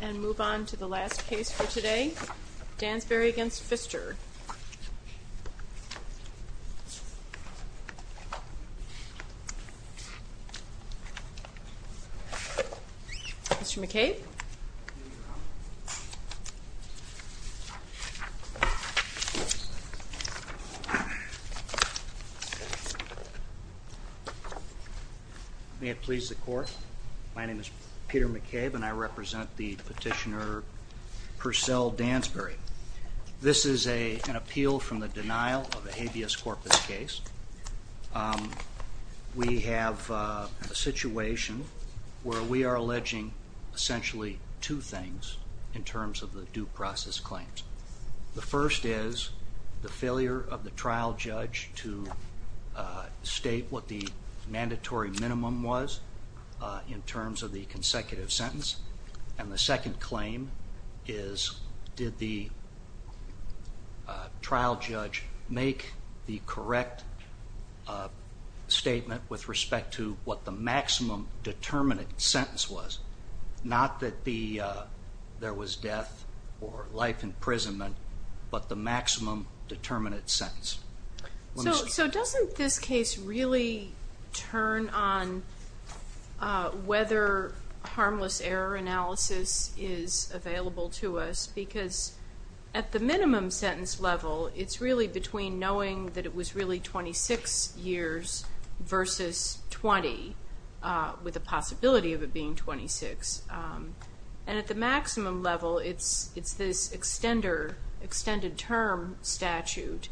And move on to the last case for today Dansberry v. Pfister. Mr. McCabe. Mr. McCabe. May it please the court. My name is Peter McCabe and I represent the petitioner Percell Dansberry. This is an appeal from the denial of a habeas corpus case. We have a situation where we are alleging essentially two things in terms of the due process claims. The first is the failure of the trial judge to state what the mandatory minimum was in terms of the consecutive sentence. And the second claim is did the trial judge make the correct statement with respect to what the maximum determinate sentence was. Not that there was death or life imprisonment, but the maximum determinate sentence. So doesn't this case really turn on whether harmless error analysis is available to us because at the minimum sentence level it's really between knowing that it was really 26 years versus 20 with the possibility of it being 26. And at the maximum level it's this extended term statute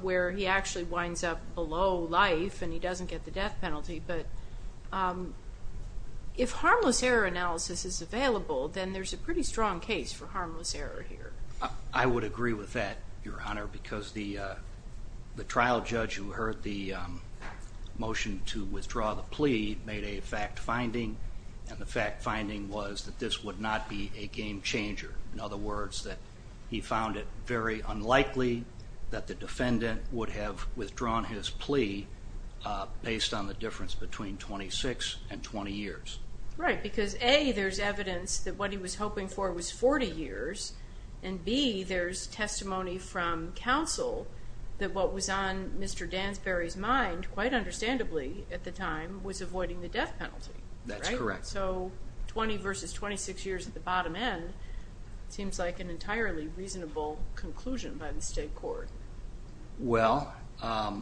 where he actually winds up below life and he doesn't get the death penalty. But if harmless error analysis is available then there's a pretty strong case for harmless error here. I would agree with that, Your Honor, because the trial judge who heard the motion to withdraw the plea made a fact finding and the fact finding was that this would not be a game changer. In other words, that he found it very unlikely that the defendant would have withdrawn his plea based on the difference between 26 and 20 years. Right, because A, there's evidence that what he was hoping for was 40 years, and B, there's testimony from counsel that what was on Mr. Dansbury's mind, quite understandably at the time, was avoiding the death penalty. That's correct. So 20 versus 26 years at the bottom end seems like an entirely reasonable conclusion by the state court. Well, I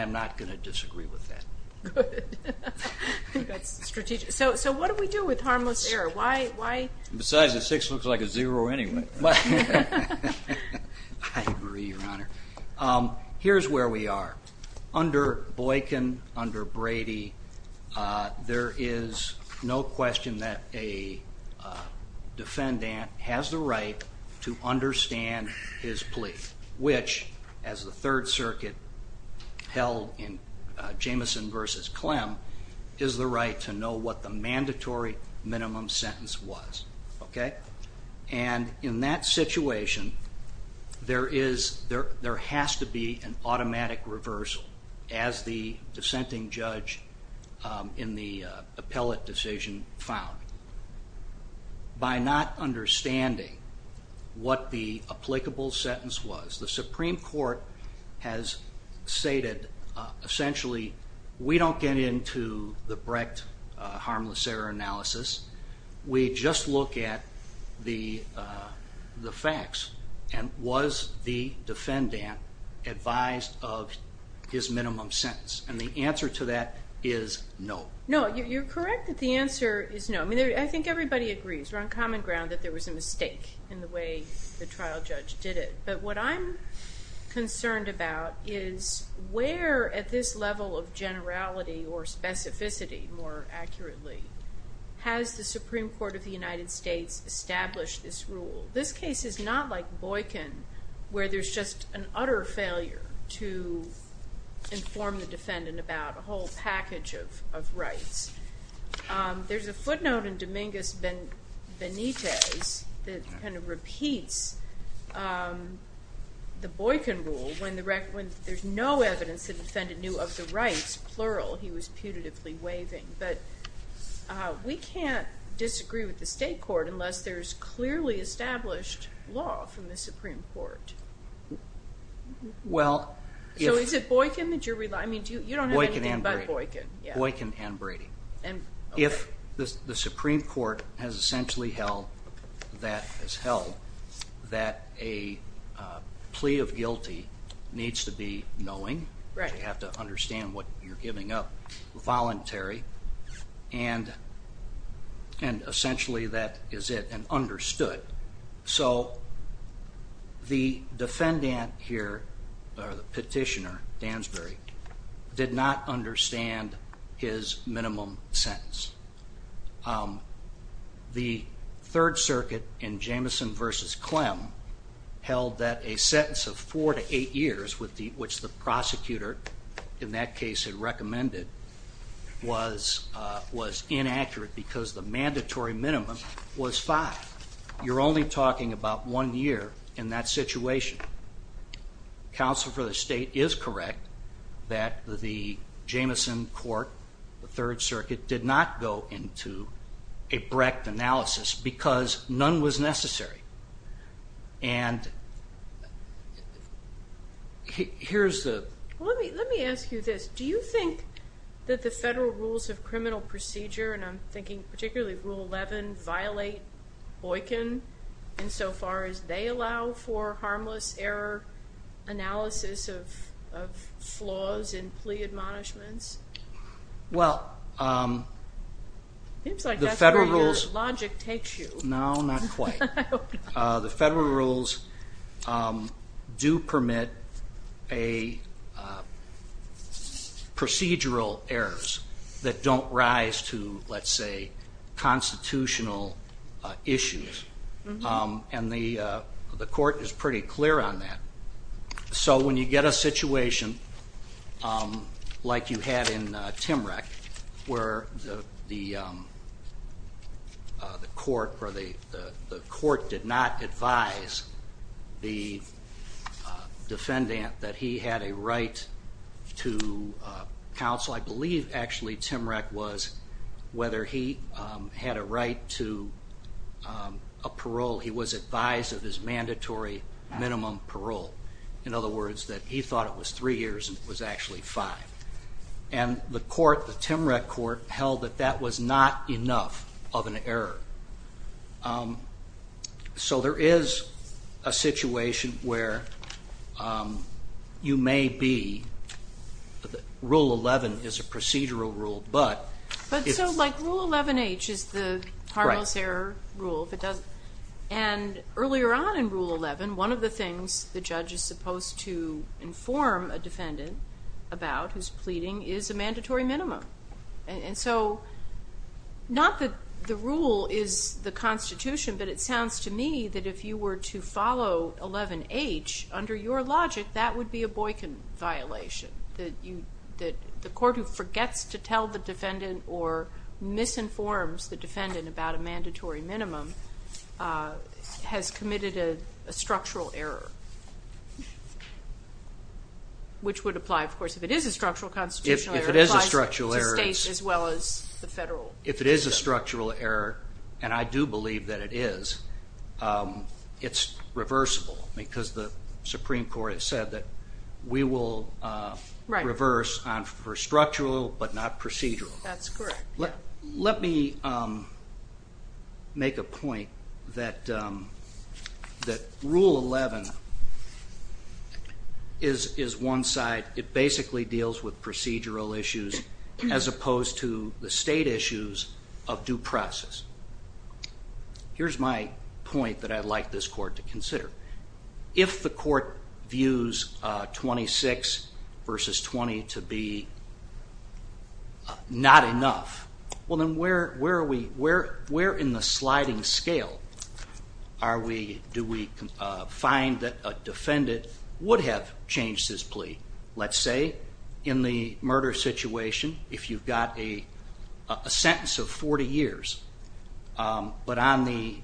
am not going to disagree with that. Good. I think that's strategic. So what do we do with harmless error? Why? Besides, a six looks like a zero anyway. I agree, Your Honor. Here's where we are. Under Boykin, under Brady, there is no question that a defendant has the right to understand his plea, which, as the Third Circuit held in Jamison v. Clem, is the right to know what the mandatory minimum sentence was. Okay? And in that situation, there has to be an automatic reversal, as the dissenting judge in the appellate decision found. By not understanding what the applicable sentence was, the Supreme Court has stated, essentially, we don't get into the Brecht harmless error analysis. We just look at the facts. And was the defendant advised of his minimum sentence? And the answer to that is no. No, you're correct that the answer is no. I think everybody agrees. We're on common ground that there was a mistake in the way the trial judge did it. But what I'm concerned about is where, at this level of generality or specificity, more accurately, has the Supreme Court of the United States established this rule? This case is not like Boykin, where there's just an utter failure to inform the defendant about a whole package of rights. There's a footnote in Dominguez v. Benitez that kind of repeats the Boykin rule when there's no evidence that the defendant knew of the rights, plural, he was putatively waiving. But we can't disagree with the state court unless there's clearly established law from the Supreme Court. So is it Boykin that you're relying on? You don't have anything but Boykin. Boykin and Brady. If the Supreme Court has essentially held that a plea of guilty needs to be knowing, you have to understand what you're giving up, voluntary, and essentially that is it, and understood. So the defendant or the petitioner, Dansbury, did not understand his minimum sentence. The Third Circuit in Jamison v. Clem held that a sentence of four to eight years, which the prosecutor in that case had recommended, was inaccurate because the mandatory minimum was five. You're only talking about one year in that situation. Counsel for the state is correct that the Jamison court, the Third Circuit, did not go into a Brecht analysis because none was necessary. And here's the... Let me ask you this. Do you think that the federal rules of criminal procedure, and I'm thinking particularly Rule 11, violate Boykin insofar as they allow for harmless error analysis of flaws in plea admonishments? Well, the federal rules do permit procedural errors that don't rise to, let's say, constitutional issues. And the court is pretty clear on that. So when you get a situation like you had in Timrec where the court did not advise the defendant that he had a right to counsel, I believe actually Timrec was whether he had a right to a parole. He was advised of his mandatory minimum parole. In other words, that he thought it was three years and it was actually five. And the court, the Timrec court, held that that was not enough of an error. So there is a situation where you may be... Rule 11 is a procedural rule, but... But so, like, Rule 11H is the harmless error rule, if it doesn't... And earlier on in Rule 11, one of the things the judge is supposed to inform a defendant about who's pleading is a mandatory minimum. And so, not that the rule is the Constitution, but it sounds to me that if you were to follow 11H, under your logic, that would be a Boykin violation. That the court who forgets to tell the defendant or misinforms the defendant about a mandatory minimum has committed a structural error. Which would apply, of course, if it is a structural constitutional error. If it is a structural error, as well as the federal... If it is a structural error, and I do believe that it is, it's reversible because the Supreme Court has said that we will reverse on for structural but not procedural. That's correct. Let me make a point that Rule 11 is one side, it basically deals with procedural issues as opposed to the state issues of due process. Here's my point that I'd like this court to consider. If the court views 26 versus 20 to be not enough, well then where in the sliding scale do we find that a defendant would have changed his plea? Let's say in the murder situation, if you've got a sentence of 40 years, but on the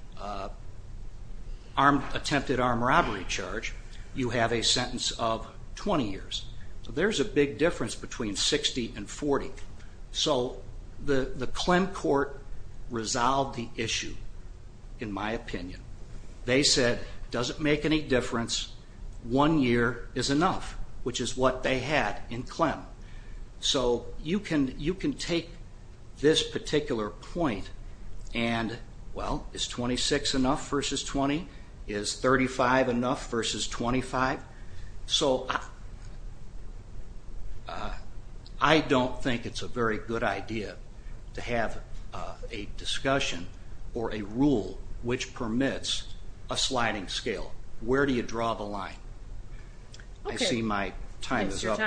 attempted armed robbery charge, you have a sentence of 20 years. There's a big difference between 60 and 40. So the Clem court resolved the issue, in my opinion. They said, doesn't make any difference, one year is enough, which is what they had in Clem. So you can take this particular point and, well, is 26 enough versus 20? Is 35 enough versus 25? So I don't think it's a very good idea to have a discussion or a rule which permits a sliding scale. Where do you draw the line? I see my time is up.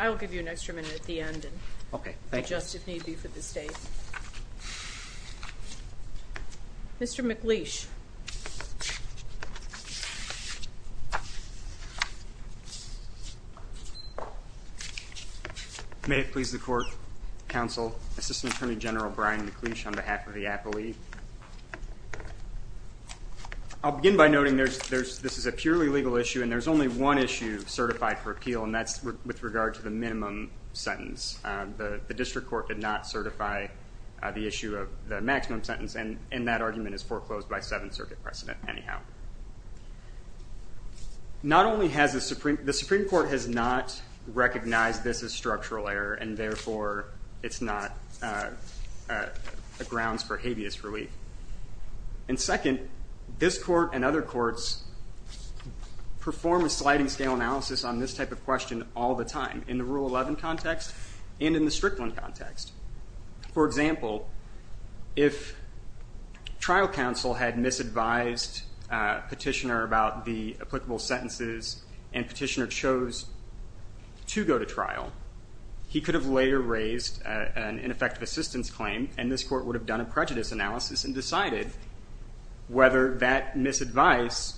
I'll give you an extra minute at the end and adjust if need be for the state. Mr. McLeish. May it please the court, counsel, Assistant Attorney General Brian McLeish on behalf of the District Court. I'll begin by noting this is a purely legal issue and there's only one issue certified for appeal and that's with regard to the minimum sentence. The District Court did not certify the issue of the maximum sentence and that argument is foreclosed by Seventh Circuit precedent anyhow. The Supreme Court has not recognized this as structural error and therefore it's not a grounds for habeas relief. And second, this court and other courts perform a sliding scale analysis on this type of question all the time in the Rule 11 context and in the Strickland context. For example, if trial counsel had misadvised petitioner about the applicable sentences and petitioner chose to go to trial, he could have later raised an ineffective assistance claim and this court would have done a prejudice analysis and decided whether that misadvice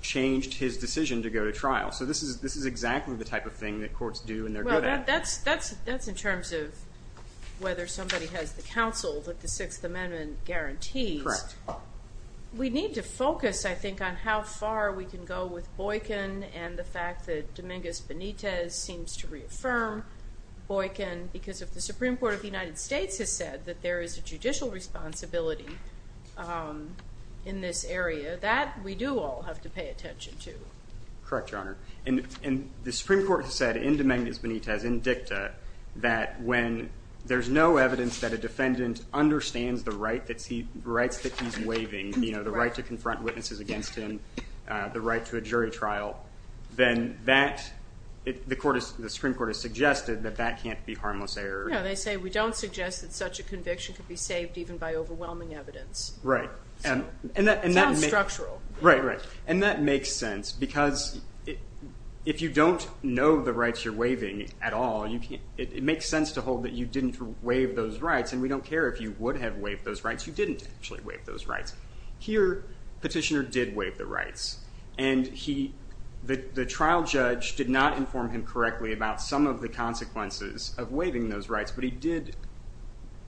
changed his decision to go to trial. So this is exactly the type of thing that courts do and they're good at. That's in terms of whether somebody has the counsel that the Sixth Amendment guarantees. Correct. We need to focus, I think, on how far we can go with Boykin and the fact that Dominguez-Benitez seems to reaffirm Boykin because if the Supreme Court of the United States has said that there is a judicial responsibility in this area, that we do all have to pay attention to. Correct, Your Honor. And the Supreme Court has said in Dominguez-Benitez, in dicta, that when there's no evidence that a defendant understands the rights that he's waiving, you know, the right to confront witnesses against him, the right to a jury trial, then the Supreme Court has suggested that that can't be harmless error. No, they say we don't suggest that such a conviction could be saved even by overwhelming evidence. Right. And that makes sense because if you don't know the rights you're waiving at all, it makes sense to hold that you didn't waive those rights, and we don't care if you would have waived those rights. You didn't actually waive those rights. Here, Petitioner did waive the rights, and the trial judge did not inform him correctly about some of the consequences of waiving those rights, but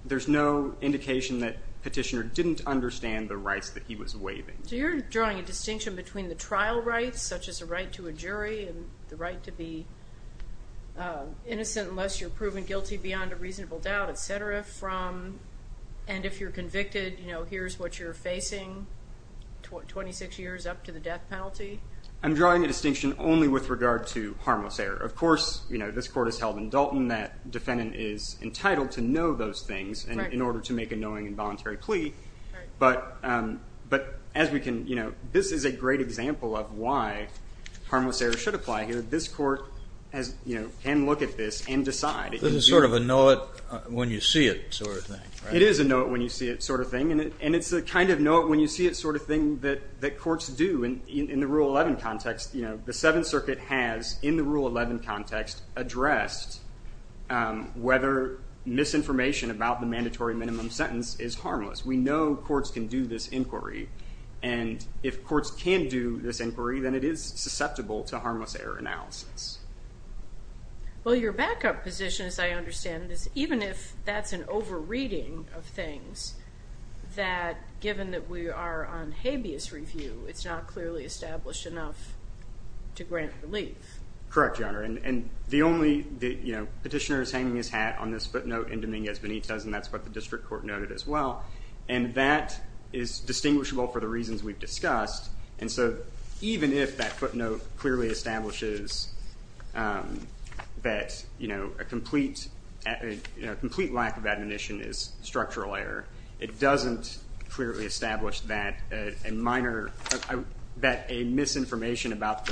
there's no indication that Petitioner didn't understand the rights that he was waiving. So you're drawing a distinction between the trial rights, such as a right to a guilty beyond a reasonable doubt, et cetera, from, and if you're convicted, you know, here's what you're facing, 26 years up to the death penalty? I'm drawing a distinction only with regard to harmless error. Of course, you know, this court has held in Dalton that defendant is entitled to know those things in order to make a knowing and voluntary plea, but as we can, you know, this is a great example of why harmless error should apply here. This court has, you know, can look at this and decide. This is sort of a know it when you see it sort of thing, right? It is a know it when you see it sort of thing, and it's a kind of know it when you see it sort of thing that courts do in the Rule 11 context. You know, the Seventh Circuit has, in the Rule 11 context, addressed whether misinformation about the mandatory minimum sentence is harmless. We know courts can do this inquiry, and if courts can do this inquiry, then it is susceptible to harmless error analysis. Well, your backup position, as I understand this, even if that's an over-reading of things, that given that we are on habeas review, it's not clearly established enough to grant relief. Correct, Your Honor, and the only, you know, petitioner is hanging his hat on this footnote in Dominguez Benitez, and that's what the district court noted as well, and that is distinguishable for the reasons we've discussed, and so even if that footnote clearly establishes that, you know, a complete lack of admonition is structural error, it doesn't clearly establish that a minor, that a misinformation about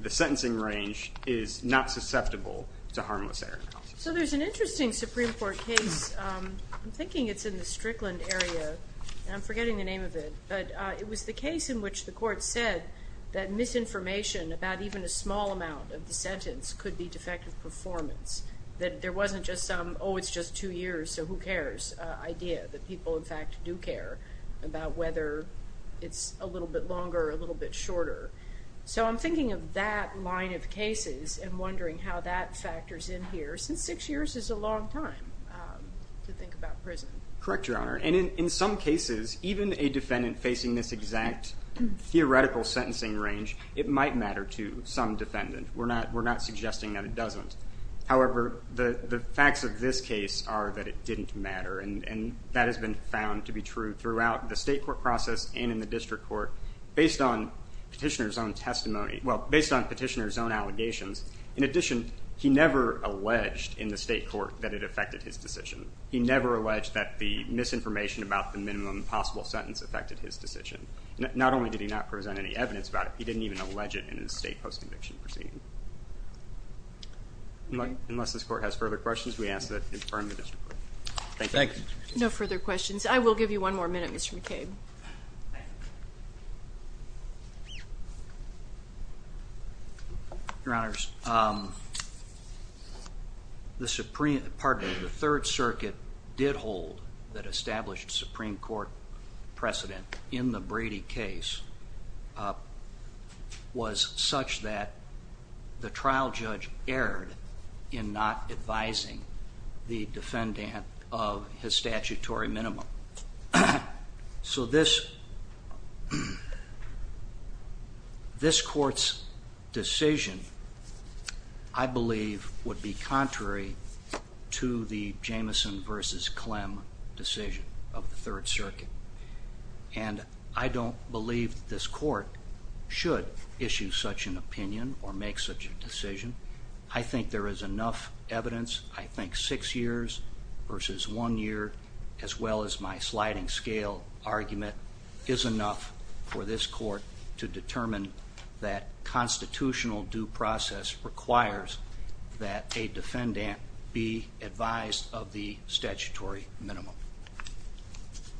the sentencing range is not susceptible to harmless error analysis. So there's an interesting Supreme Court case, I'm thinking it's in the Strickland area, and I'm forgetting the name of it, but it was the misinformation about even a small amount of the sentence could be defective performance, that there wasn't just some, oh, it's just two years, so who cares idea, that people in fact do care about whether it's a little bit longer, a little bit shorter. So I'm thinking of that line of cases and wondering how that factors in here, since six years is a long time to think about prison. Correct, Your Honor, and in some cases, even a defendant facing this exact theoretical sentencing range, it might matter to some defendant. We're not suggesting that it doesn't. However, the facts of this case are that it didn't matter, and that has been found to be true throughout the state court process and in the district court, based on petitioner's own testimony, well, based on petitioner's own allegations. In addition, he never alleged in the state court that it affected his decision. He never alleged that the misinformation about the minimum possible sentence affected his decision. Not only did he not present any evidence about it, he didn't even allege it in his state post-conviction proceeding. Unless this court has further questions, we ask that you confirm the district court. Thank you. No further questions. I will give you one more minute, Mr. McCabe. Your Honors, the Supreme, pardon me, the Third Circuit did hold that precedent in the Brady case was such that the trial judge erred in not advising the defendant of his statutory minimum. So this court's decision, I believe, would be contrary to the Jamison v. Clem decision of the Third Circuit. And I don't believe this court should issue such an opinion or make such a decision. I think there is enough evidence, I think six years versus one year, as well as my sliding scale argument, is enough for this court to determine that constitutional due process requires that a defendant be advised of the statutory minimum.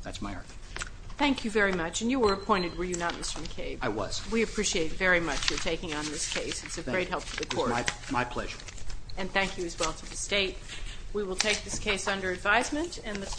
That's my argument. Thank you very much. And you were appointed, were you not, Mr. McCabe? I was. We appreciate very much your taking on this case. It's a great help to the court. My pleasure. And thank you as well to the state. We will take this case under advisement and the court